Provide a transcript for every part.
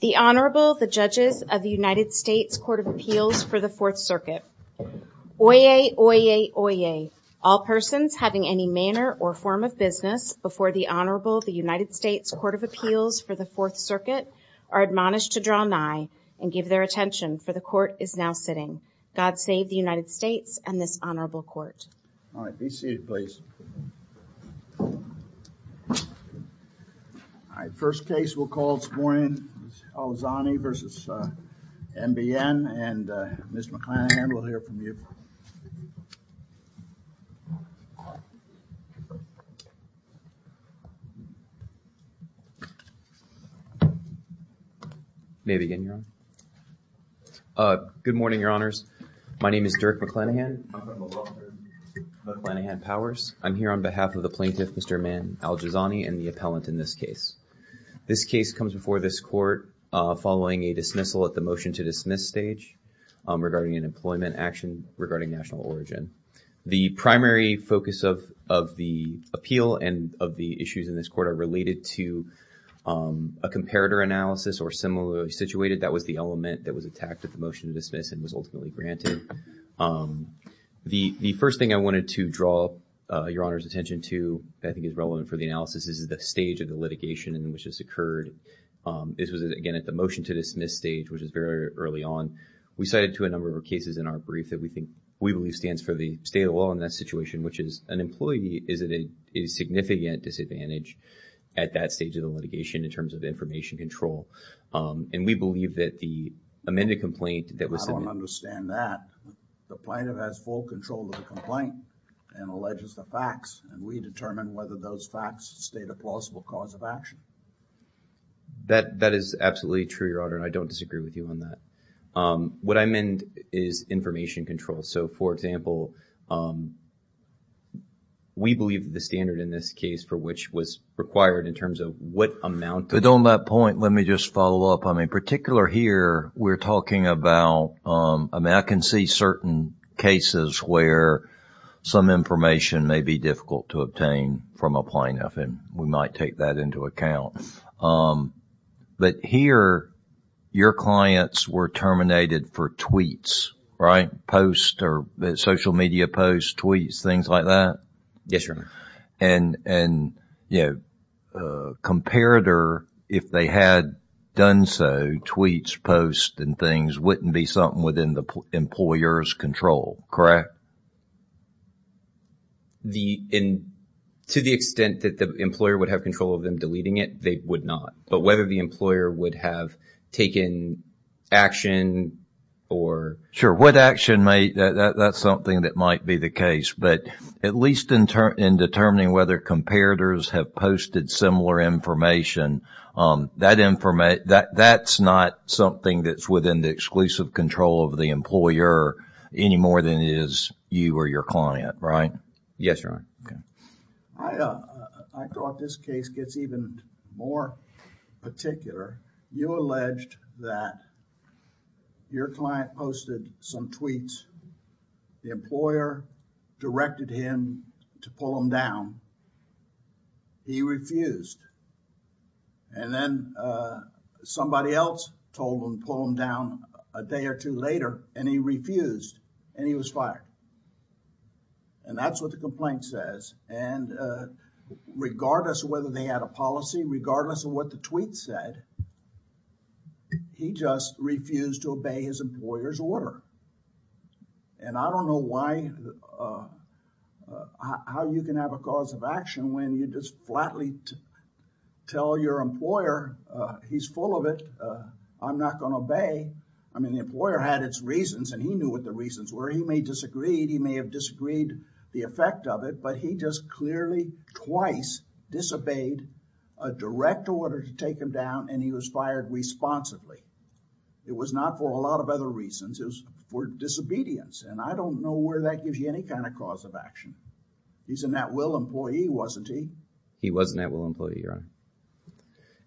The Honorable the judges of the United States Court of Appeals for the Fourth Circuit. Oyez, oyez, oyez, all persons having any manner or form of business before the Honorable the United States Court of Appeals for the Fourth Circuit are admonished to draw nigh and give their attention for the court is now sitting. God save the United States and this Honorable Court. All right, be seated please. All right, first case we'll call this morning is Aljizzani v. NBN and Mr. McClanahan we'll hear from you. May I begin, Your Honor? Good morning, Your Honors. My name is Dirk McClanahan, McClanahan Powers. I'm here on behalf of the plaintiff Mr. Maan Aljizzani and the appellant in this case. This case comes before this court following a dismissal at the motion to dismiss stage regarding an employment action regarding national origin. The primary focus of of the appeal and of the issues in this court are related to a comparator analysis or similarly situated that was the element that was attacked at the motion to dismiss and was ultimately granted. The the first thing I wanted to draw Your Honor's attention to I think is relevant for the analysis is the stage of the litigation in which this occurred. This was again at the motion to dismiss stage which is very early on. We cited to a number of cases in our brief that we think we believe stands for the state of law in that situation which is an employee is it a significant disadvantage at that stage of the litigation in terms of information control and we believe that the amended complaint that was submitted. I don't understand that. The plaintiff has full control of the complaint and alleges the facts and we determine whether those facts state a plausible cause of action. That that is absolutely true Your Honor and I don't disagree with you on that. What I meant is information control. So for example we believe the standard in this case for which was required in terms of what amount. But on that point let me just follow up. I mean particular here we're talking about I mean I can see certain cases where some information may be difficult to obtain from a plaintiff and we might take that into account. But here your clients were terminated for tweets, right? Posts or social media posts, tweets, things like that? Yes, Your Honor. And you know comparator if they had done so, tweets, posts and things wouldn't be something within the employer's control, correct? To the extent that the employer would have control of them deleting it, they would not. But whether the employer would have taken action or Sure what action may, that's something that might be the case. But at least in determining whether comparators have posted similar information, that information, that's not something that's within the exclusive control of the employer any more than it is you or your client, right? Yes, Your Honor. Okay. I thought this case gets even more particular. You alleged that your client posted some tweets. The employer directed him to pull them down. He refused. And then somebody else told him to pull them down a day or two later and he refused and he was fired. And that's what the complaint says. And regardless of whether they had a policy, regardless of what the tweet said, he just refused to obey his employer's order. And I don't know why, how you can have a cause of action when you just flatly tell your employer, he's full of it, I'm not going to obey. I mean, the employer had its reasons and he knew what the reasons were. He may disagree, he may have disagreed the effect of it, but he just clearly twice disobeyed a direct order to take him down and he was fired responsibly. It was not for a lot of other reasons, it was for disobedience. And I don't know where that gives you any kind of cause of action. He's a net will employee, wasn't he? He was a net will employee, Your Honor.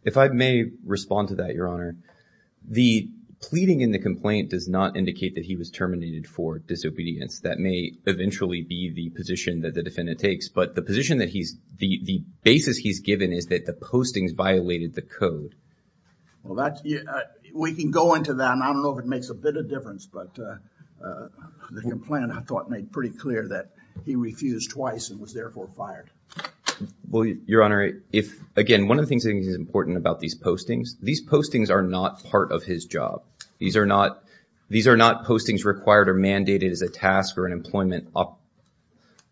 If I may respond to that, Your Honor, the pleading in the complaint does not indicate that he was terminated for disobedience. That may eventually be the position that the defendant takes, but the position that he's, the basis he's given is that the postings violated the code. Well, that's, we can go into that and I don't know if it makes a bit of difference, but the complainant, I thought, made pretty clear that he refused twice and was therefore fired. Well, Your Honor, if, again, one of the things I think is important about these postings, these postings are not part of his job. These are not, these are not postings required or mandated as a task or an employment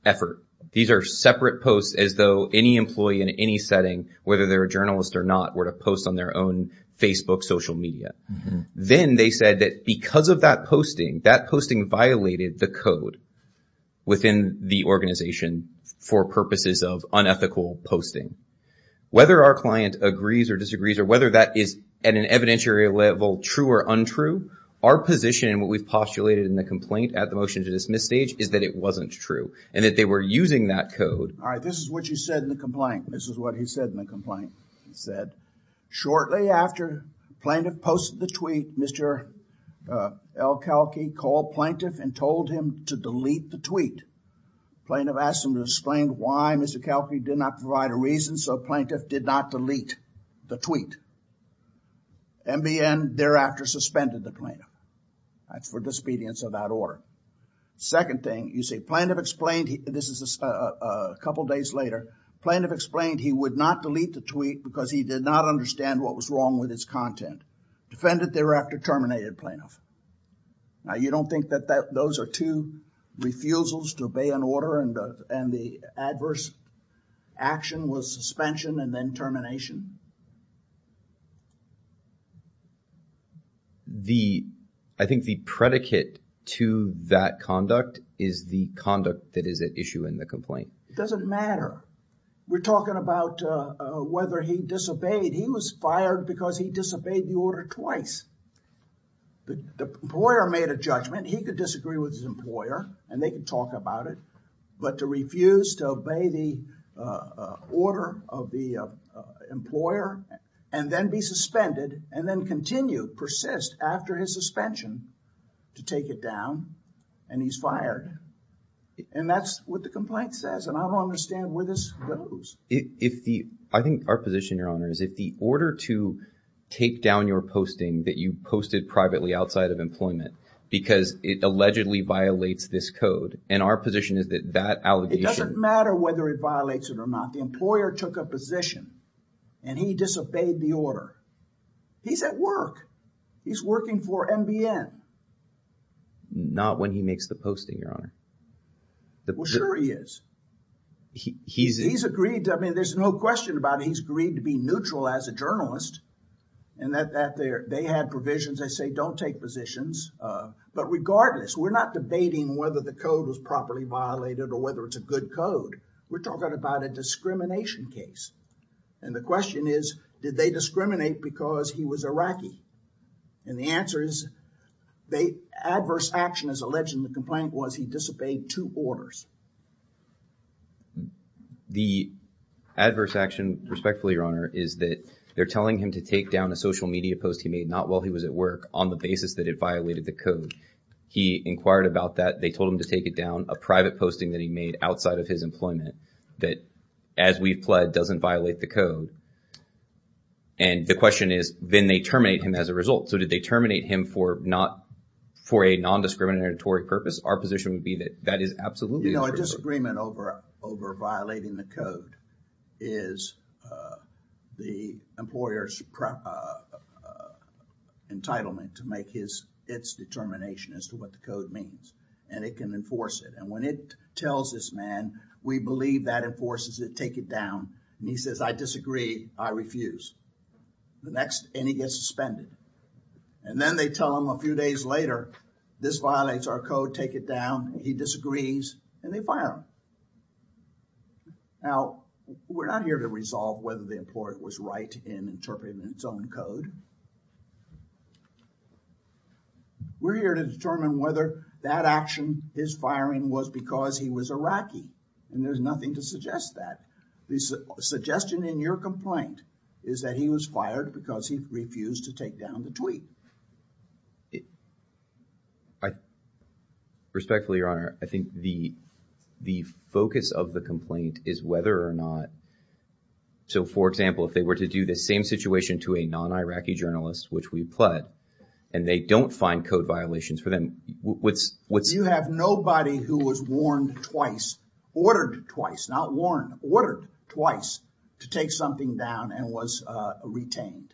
effort. These are separate posts as though any employee in any setting, whether they're a journalist or not, were to post on their own Facebook social media. Then they said that because of that posting, that posting violated the code within the organization for purposes of unethical posting. Whether our client agrees or disagrees or whether that is, at an evidentiary level, true or untrue, our position and what we've postulated in the complaint at the motion to dismiss stage is that it wasn't true and that they were using that code. All right, this is what you said in the complaint. This is what he said in the complaint. He said, shortly after plaintiff posted the tweet, Mr. El-Khalki called plaintiff and told him to delete the tweet. Plaintiff asked him to explain why Mr. El-Khalki did not provide a reason, so plaintiff did not delete the tweet. MBN thereafter suspended the plaintiff. That's for disobedience of that order. Second thing, you say plaintiff explained, this is a couple days later, plaintiff explained he would not delete the tweet because he did not understand what was wrong with his content. Defendant thereafter terminated plaintiff. Now, you don't think that those are two refusals to obey an order and the adverse action was suspension and then termination? I think the predicate to that conduct is the conduct that is at issue in the complaint. It doesn't matter. We're talking about whether he disobeyed. He was fired because he disobeyed the order twice. The employer made a judgment. He could disagree with his employer and they could talk about it, but to refuse to obey the order of the employer and then be suspended and then continue, persist after his suspension to take it down and he's fired. That's what the complaint says and I don't understand where this goes. I think our position, Your Honor, is if the order to take down your posting that you posted privately outside of employment because it allegedly violates this code and our position is that that allegation... It doesn't matter whether it violates it or not. The employer took a position and he disobeyed the order. He's at work. He's working for NBN. Not when he makes the posting, Your Honor. Well, sure he is. He's agreed to... I mean, there's no question about it. He's agreed to be neutral as a journalist and that they had provisions. They say, don't take positions, but regardless, we're not debating whether the code was properly violated or whether it's a good code. We're talking about a discrimination case and the question is, did they discriminate because he was Iraqi? And the answer is, the adverse action is alleged in the complaint was he disobeyed two orders. The adverse action, respectfully, Your Honor, is that they're telling him to take down a social media post he made not while he was at work on the basis that it violated the code. He inquired about that. They told him to take it down, a private posting that he made outside of his employment that, as we've pled, doesn't violate the code. And the question is, then they terminate him as a result. So did they terminate him for a non-discriminatory purpose? Our position would be that that is absolutely... You know, a disagreement over violating the code is the employer's entitlement to make his, its determination as to what the code means and it can enforce it. And when it tells this man, we believe that enforces it, take it down. And he says, I disagree. I refuse. The next, and he gets suspended. And then they tell him a few days later, this violates our code, take it down. He disagrees and they fire him. Now, we're not here to resolve whether the employer was right in interpreting its own code. We're here to determine whether that action, his firing, was because he was Iraqi. And there's nothing to suggest that. The suggestion in your complaint is that he was fired because he refused to take down the tweet. Respectfully, Your Honor, I think the, the focus of the complaint is whether or not, so for example, if they were to do the same situation to a non-Iraqi journalist, which we pled, and they don't find code violations for them, what's... You have nobody who was warned twice, ordered twice, not warned, ordered twice to take something down and was retained.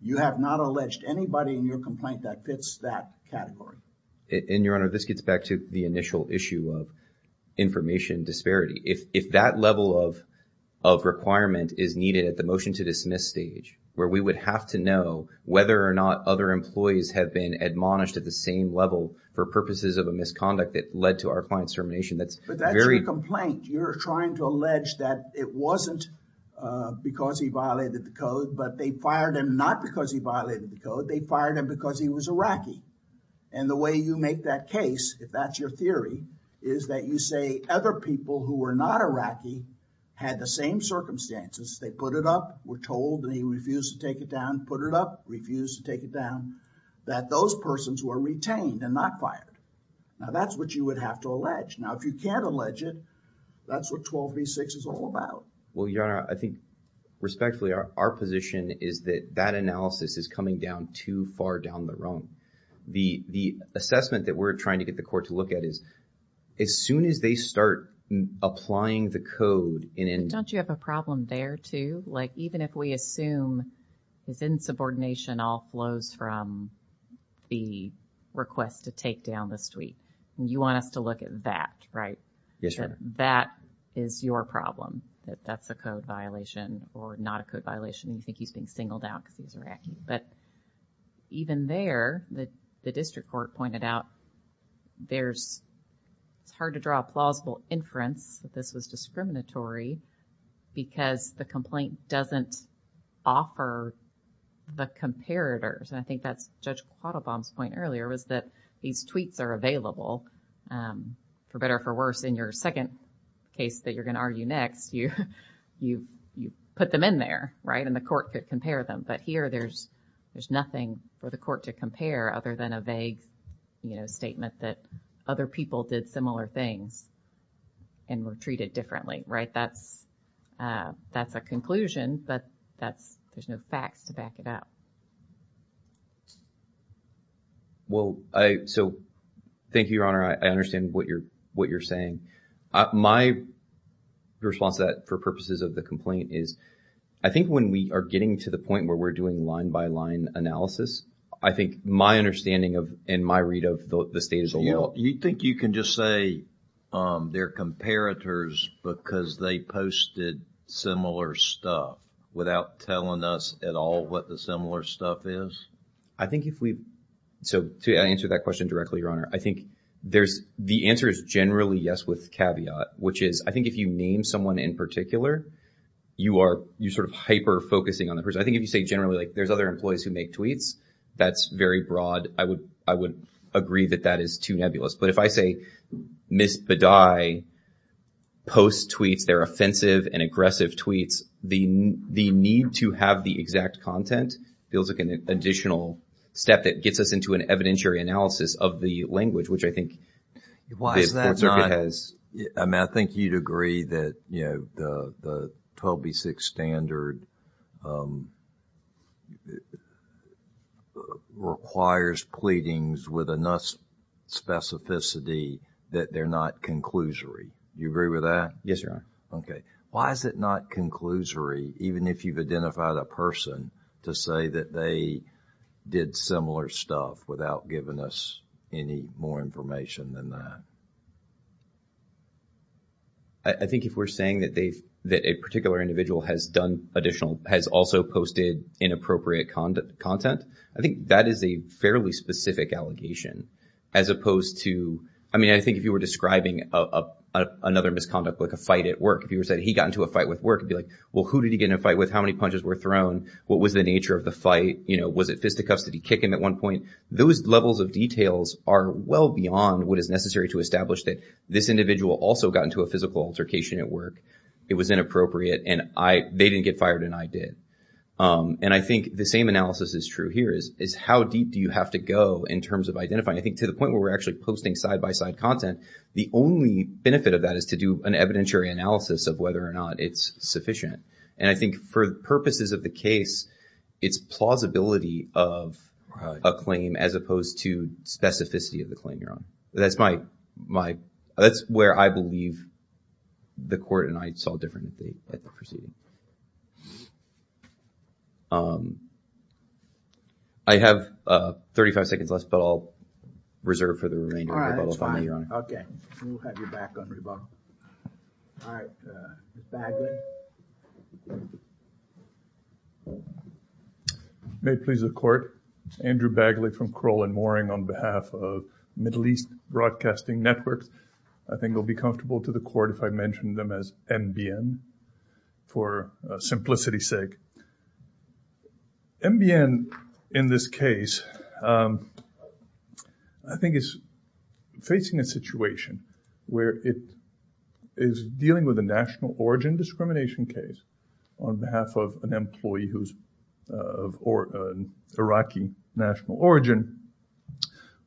You have not alleged anybody in your complaint that fits that category. And, Your Honor, this gets back to the initial issue of information disparity. If, if that level of, of requirement is needed at the motion to dismiss stage, where we would have to know whether or not other employees have been admonished at the same level for purposes of a misconduct that led to our client's termination, that's very... But that's your complaint. You're trying to allege that it wasn't because he violated the code, but they fired him not because he violated the code. They fired him because he was Iraqi. And the way you make that case, if that's your theory, is that you say other people who were not Iraqi had the same circumstances. They put it up, were told, and he refused to take it down, put it up, refused to take it down, that those persons were retained and not fired. Now that's what you would have to allege. Now, if you can't allege it, that's what 12 v. 6 is all about. Well, Your Honor, I think, respectfully, our, our position is that that analysis is coming down too far down the road. The, the assessment that we're trying to get the court to look at is, as soon as they start applying the code in an... Don't you have a problem there, too? Like, even if we assume his insubordination all flows from the request to take down this tweet, you want us to look at that, right? Yes, Your Honor. That is your problem, that that's a code violation or not a code violation. You think he's being singled out because he's Iraqi. But even there, the, the district court pointed out there's, it's hard to draw a plausible inference that this was discriminatory because the complaint doesn't offer the comparators. And I think that's Judge Quattlebaum's point earlier was that these tweets are available. For better or for worse, in your second case that you're going to argue next, you, you, you put them in there, right? And the court could compare them. But here, there's, there's nothing for the court to compare other than a vague, you know, statement that other people did similar things and were treated differently, right? That's, that's a conclusion, but that's, there's no facts to back it up. Well, I, so, thank you, Your Honor. I understand what you're, what you're saying. My response to that for purposes of the complaint is, I think when we are getting to the point where we're doing line by line analysis, I think my understanding of, and my read of the state is a little... So, you think you can just say they're comparators because they posted similar stuff without telling us at all what the similar stuff is? I think if we, so, to answer that question directly, Your Honor, I think there's, the answer is generally yes with caveat, which is, I think if you name someone in particular, you are, you're sort of hyper-focusing on the person. I think if you say generally like there's other employees who make tweets, that's very broad. I would, I would agree that that is too nebulous. But if I say Ms. Bidai posts tweets, they're offensive and aggressive tweets, the need to have the exact content feels like an additional step that gets us into an evidentiary analysis of the language, which I think the court circuit has... Why is that not... I mean, I think you'd agree that, you know, the 12B6 standard requires pleadings with enough specificity that they're not conclusory. You agree with that? Yes, Your Honor. Okay. Why is it not conclusory, even if you've identified a person, to say that they did similar stuff without giving us any more information than that? I think if we're saying that they've, that a particular individual has done additional, has also posted inappropriate content, I think that is a fairly specific allegation, as opposed to, I mean, I think if you were describing another misconduct, like a fight at work, if you said he got into a fight with work, it'd be like, well, who did he get in a fight with? How many punches were thrown? What was the nature of the fight? You know, was it fisticuffs? Did he kick him at one point? Those levels of details are well beyond what is necessary to establish that this individual also got into a physical altercation at work. It was inappropriate, and they didn't get fired, and I did. And I think the same analysis is true here, is how deep do you have to go in terms of identifying? I think to the point where we're actually posting side-by-side content, the only benefit of that is to do an evidentiary analysis of whether or not it's sufficient. And I think for the purposes of the case, it's plausibility of a claim, as opposed to specificity of the claim, Your That's my, my, that's where I believe the court and I saw differently at the proceeding. I have 35 seconds left, but I'll reserve for the remainder of the rebuttal. All right, that's fine. Okay, we'll have you back on rebuttal. All right, Mr. Bagley. May it please the court, Andrew Bagley from Kroll and Mooring on behalf of Middle East Broadcasting Networks. I think it will be comfortable to the court if I mention them as NBN for simplicity's sake. NBN, in this case, I think is facing a situation where it is dealing with a national origin discrimination case on behalf of an employee who's of Iraqi national origin.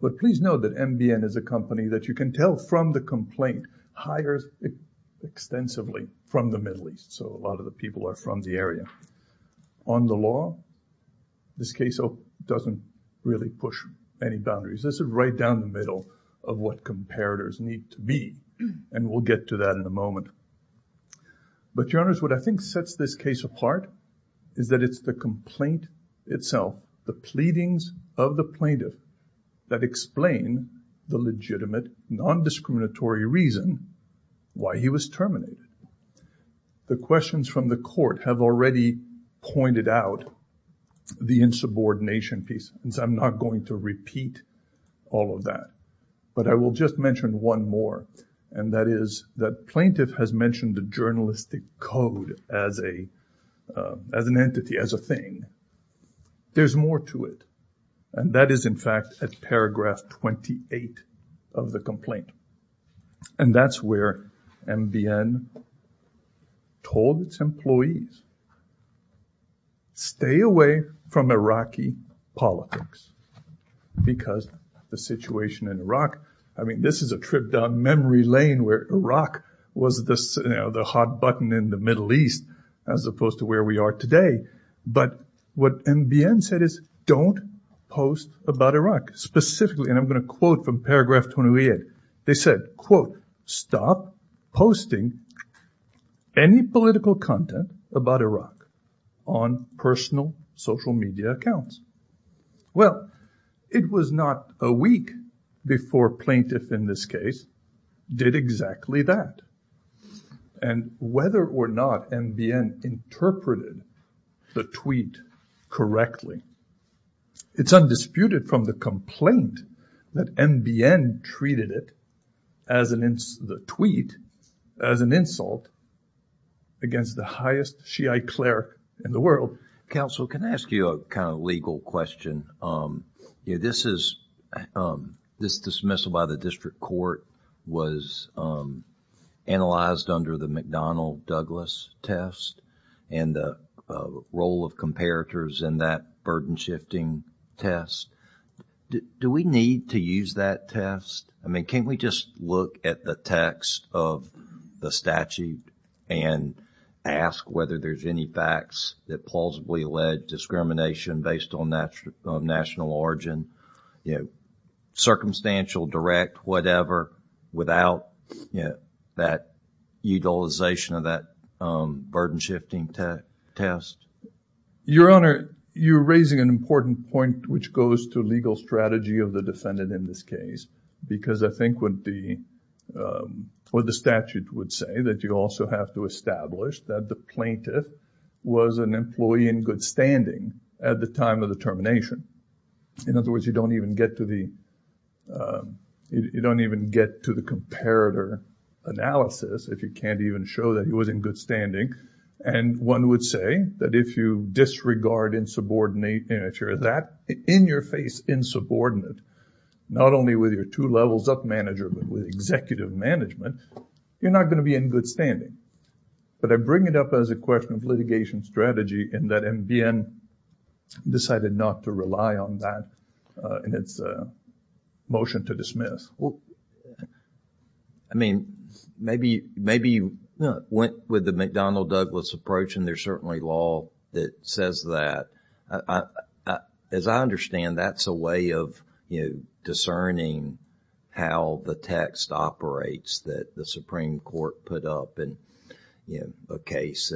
But please know that NBN is a company that you can tell from the complaint hires extensively from the Middle East. So a lot of the people are from the area. On the law, this case doesn't really push any boundaries. This is right down the middle of what comparators need to be. And we'll get to that in a moment. But your honors, what I think sets this case apart is that it's the complaint itself, the pleadings of the plaintiff that explain the legitimate non-discriminatory reason why he was terminated. The questions from the court have already pointed out the insubordination piece. And I'm not going to repeat all of that. But I will just mention one more. And that is that plaintiff has mentioned the journalistic code as an entity, as a thing. There's more to it. And that is, in fact, at paragraph 28 of the complaint. And that's where NBN told its employees, stay away from Iraqi politics. Because the situation in Iraq, I mean, this is a trip down memory lane where Iraq was the hot button in the Middle East, as opposed to where we are today. But what NBN said is, don't post about Iraq. Specifically, and I'm not posting any political content about Iraq on personal social media accounts. Well, it was not a week before plaintiff, in this case, did exactly that. And whether or not NBN interpreted the tweet correctly, it's undisputed from the complaint that NBN treated it, the tweet, as an insult against the highest Shiite cleric in the world. Counsel, can I ask you a kind of legal question? This dismissal by the district court was analyzed under the McDonnell-Douglas test, and the role of comparators in that burden-shifting test. Do we need to use that test? I mean, can't we just look at the text of the statute and ask whether there's any facts that plausibly allege discrimination based on national origin? Circumstantial, direct, whatever, without that utilization of that burden-shifting test? Your Honor, you're raising an important point, which goes to legal strategy of the defendant in this case. Because I think what the statute would say, that you also have to establish that the plaintiff was an employee in good standing at the time of the termination. In other words, you don't even get to the comparator analysis if you can't even show that he was in good standing. And one would say that if you disregard insubordinate nature, that in-your-face insubordinate, not only with your two levels up manager, but with executive management, you're not going to be in good standing. But I bring it up as a question of litigation strategy and that NBN decided not to rely on that in its motion to dismiss. I mean, maybe you went with the McDonnell-Douglas approach, and there's certainly law that says that. As I understand, that's a way of, you know, discerning how the text operates that the Supreme Court put up in a case.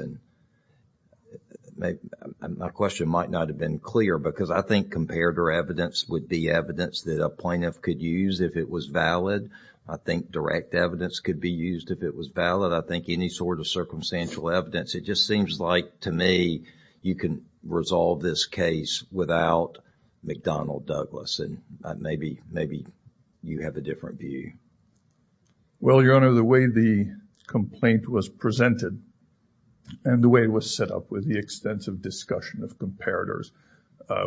My question might not have been clear because I think comparator evidence would be evidence that a plaintiff could use if it was valid. I think direct evidence could be used if it was valid. I think any sort of circumstantial evidence, it just seems like to me, you can resolve this case without McDonnell-Douglas. And maybe you have a different view. Well, Your Honor, the way the complaint was presented and the way it was set up with the extensive discussion of comparators,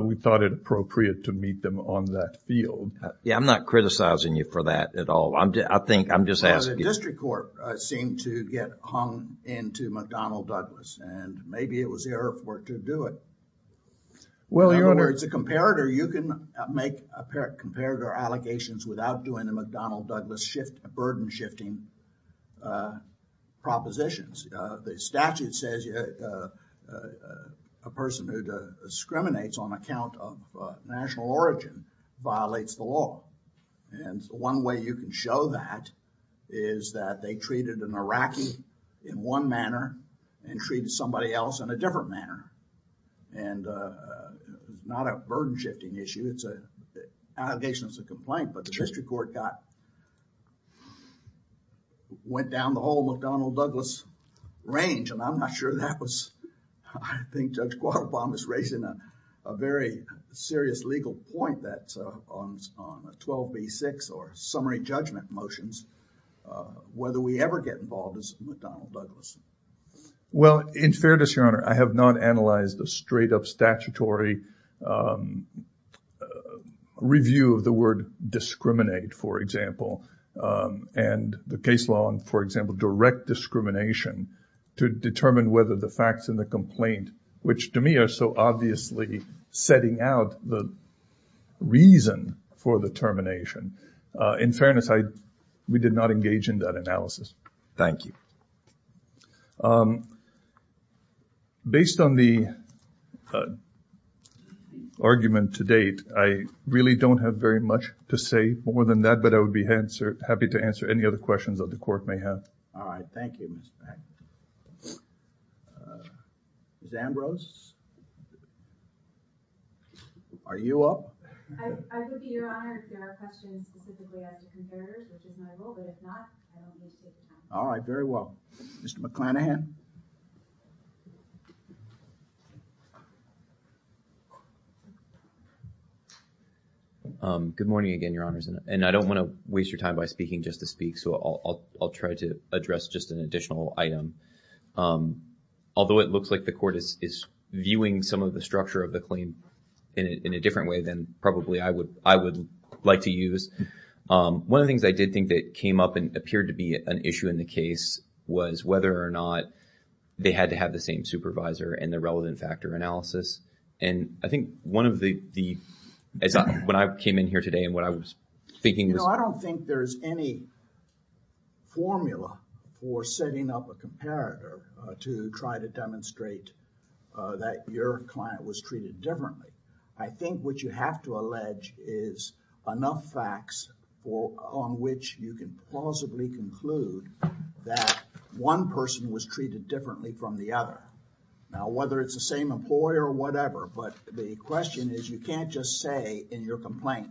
we thought it appropriate to meet them on that field. Yeah, I'm not criticizing you for that at all. I think, I'm just asking. The district court seemed to get hung into McDonnell-Douglas and maybe it was the error for it to do it. Well, Your Honor. In other words, a comparator, you can make a pair of comparator allegations without doing the McDonnell-Douglas burden shifting propositions. The statute says a person who discriminates on account of national origin violates the law. And one way you can show that is that they treated an Iraqi in one manner and treated somebody else in a different manner. And not a burden shifting issue, it's an allegation, it's a complaint. But the district court got, went down the whole McDonnell-Douglas range. And I'm not sure that was, I think Judge Quattlebaum is raising a very serious legal point that's on 12b-6 or summary judgment motions, whether we ever get involved as McDonnell-Douglas. Well, in fairness, Your Honor, I have not analyzed a straight up statutory review of the word discriminate, for example. And the case law, for example, direct discrimination to determine whether the facts in the complaint, which to me are so obviously setting out the reason for the termination. In fairness, I, we did not engage in that analysis. Thank you. Based on the argument to date, I really don't have very much to say more than that, but I would be happy to answer any other questions that the court may have. All right. Thank you, Mr. Packett. Ms. Ambrose? Are you up? I would be, Your Honor, if there are questions specifically at the conservators, which is my role, but if not, I don't wish to take the time. All right. Very well. Mr. McClanahan? Good morning again, Your Honors. And I don't want to waste your time by speaking just to speak, so I'll try to address just an additional item. Although it looks like the court is viewing some of the structure of the claim in a different way than probably I would like to use. One of the things I did think that came up and appeared to be an issue in the case was whether or not they had to have the same supervisor and the relevant factor analysis. And I think one of the, when I came in here today and what I was thinking was- to try to demonstrate that your client was treated differently. I think what you have to allege is enough facts on which you can plausibly conclude that one person was treated differently from the other. Now, whether it's the same employer or whatever, but the question is you can't just say in your complaint,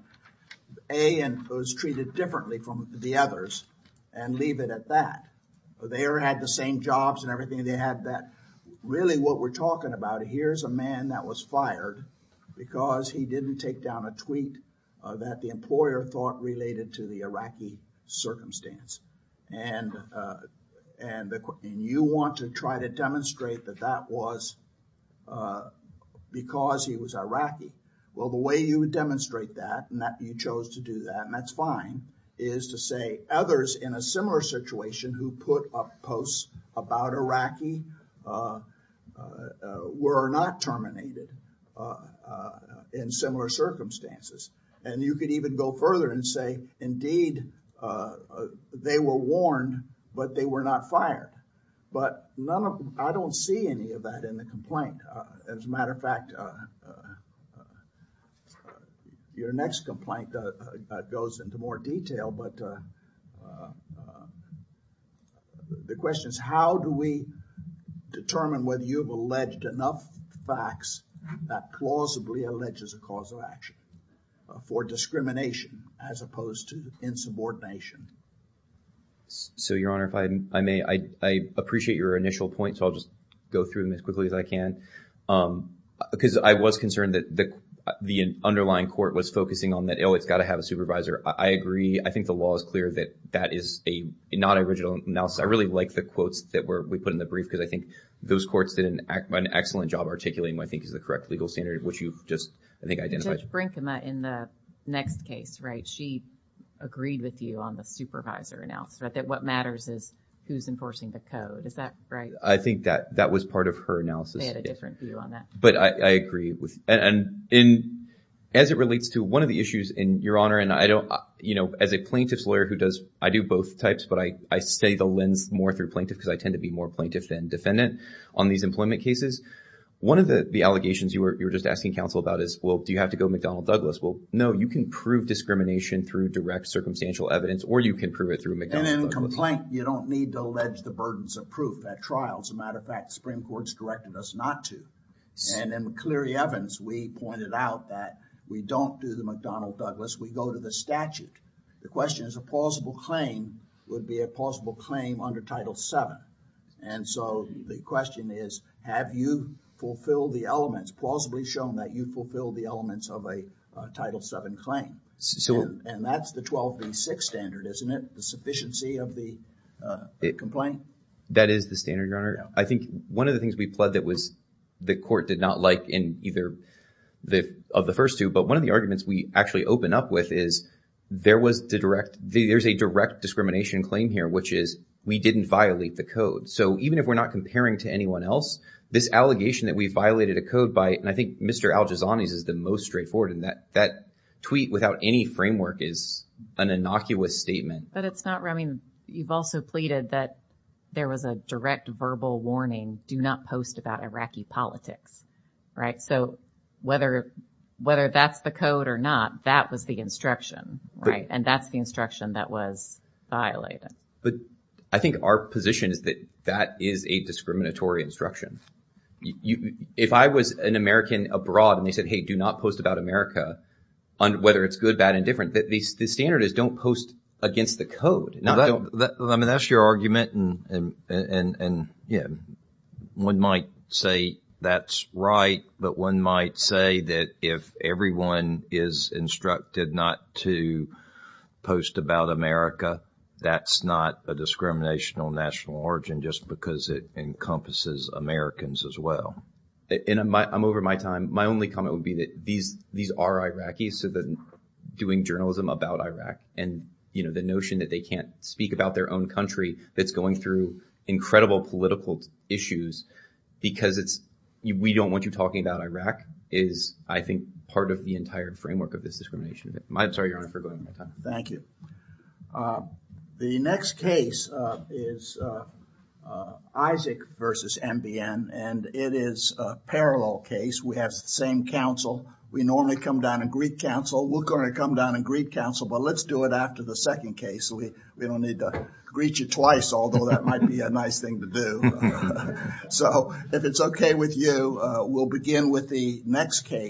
A, it was treated differently from the others and leave it at that. They all had the same jobs and everything. They had that. Really what we're talking about, here's a man that was fired because he didn't take down a tweet that the employer thought related to the Iraqi circumstance. And you want to try to demonstrate that that was because he was Iraqi. Well, the way you would demonstrate that and that you chose to do that, and that's fine, is to say others in a similar situation who put up posts about Iraqi were not terminated in similar circumstances. And you could even go further and say, indeed, they were warned, but they were not fired. But I don't see any of that in the complaint. As a matter of fact, your next complaint goes into more detail, but the question is how do we determine whether you've alleged enough facts that plausibly alleges a cause of action for discrimination as opposed to insubordination? So, Your Honor, if I may, I appreciate your initial point, so I'll just go through them quickly as I can. Because I was concerned that the underlying court was focusing on that, oh, it's got to have a supervisor. I agree. I think the law is clear that that is not an original analysis. I really like the quotes that we put in the brief because I think those courts did an excellent job articulating what I think is the correct legal standard, which you've just, I think, identified. Judge Brinkema in the next case, right, she agreed with you on the supervisor analysis, that what matters is who's enforcing the code. Is that right? I think that was part of her analysis. They had a different view on that. But I agree. And as it relates to one of the issues, Your Honor, and I don't, you know, as a plaintiff's lawyer who does, I do both types, but I stay the lens more through plaintiff because I tend to be more plaintiff than defendant on these employment cases. One of the allegations you were just asking counsel about is, well, do you have to go McDonnell Douglas? Well, no, you can prove discrimination through direct circumstantial evidence or you can prove it through McDonnell Douglas. And in a complaint, you don't need to allege the burdens of proof at trial. As a matter of fact, the Supreme Court's directed us not to. And in McCleary-Evans, we pointed out that we don't do the McDonnell Douglas. We go to the statute. The question is a plausible claim would be a plausible claim under Title VII. And so the question is, have you fulfilled the elements, plausibly shown that you've fulfilled the elements of a Title VII claim? And that's the 12V6 standard, isn't it? The sufficiency of the complaint? That is the standard, Your Honor. I think one of the things we pled that was, the court did not like in either of the first two. But one of the arguments we actually open up with is there was the direct, there's a direct discrimination claim here, which is we didn't violate the code. So even if we're not comparing to anyone else, this allegation that we violated a code by, and I think Mr. Al-Jazani's is the most straightforward in that, that tweet without any framework is an innocuous statement. But it's not, I mean, you've also pleaded that there was a direct verbal warning, do not post about Iraqi politics, right? So whether, whether that's the code or not, that was the instruction, right? And that's the instruction that was violated. But I think our position is that that is a discriminatory instruction. You, if I was an American abroad and they said, hey, do not post about America, on whether it's good, bad, and different, the standard is don't post against the code. I mean, that's your argument. And, and, and, yeah, one might say that's right. But one might say that if everyone is instructed not to post about America, that's not a discriminational national origin, just because it encompasses Americans as well. In my, I'm over my time. My only comment would be that these, these are Iraqis. So then doing journalism about Iraq and, you know, the notion that they can't speak about their own country that's going through incredible political issues because it's, we don't want you talking about Iraq is, I think, part of the entire framework of this discrimination. I'm sorry, Your Honor, for going on my time. Thank you. Uh, the next case, uh, is, uh, uh, Isaac versus MBN and it is a parallel case. We have the same counsel. We normally come down and greet counsel. We're going to come down and greet counsel, but let's do it after the second case. So we, we don't need to greet you twice, although that might be a nice thing to do. So if it's okay with you, uh, we'll begin with the next case.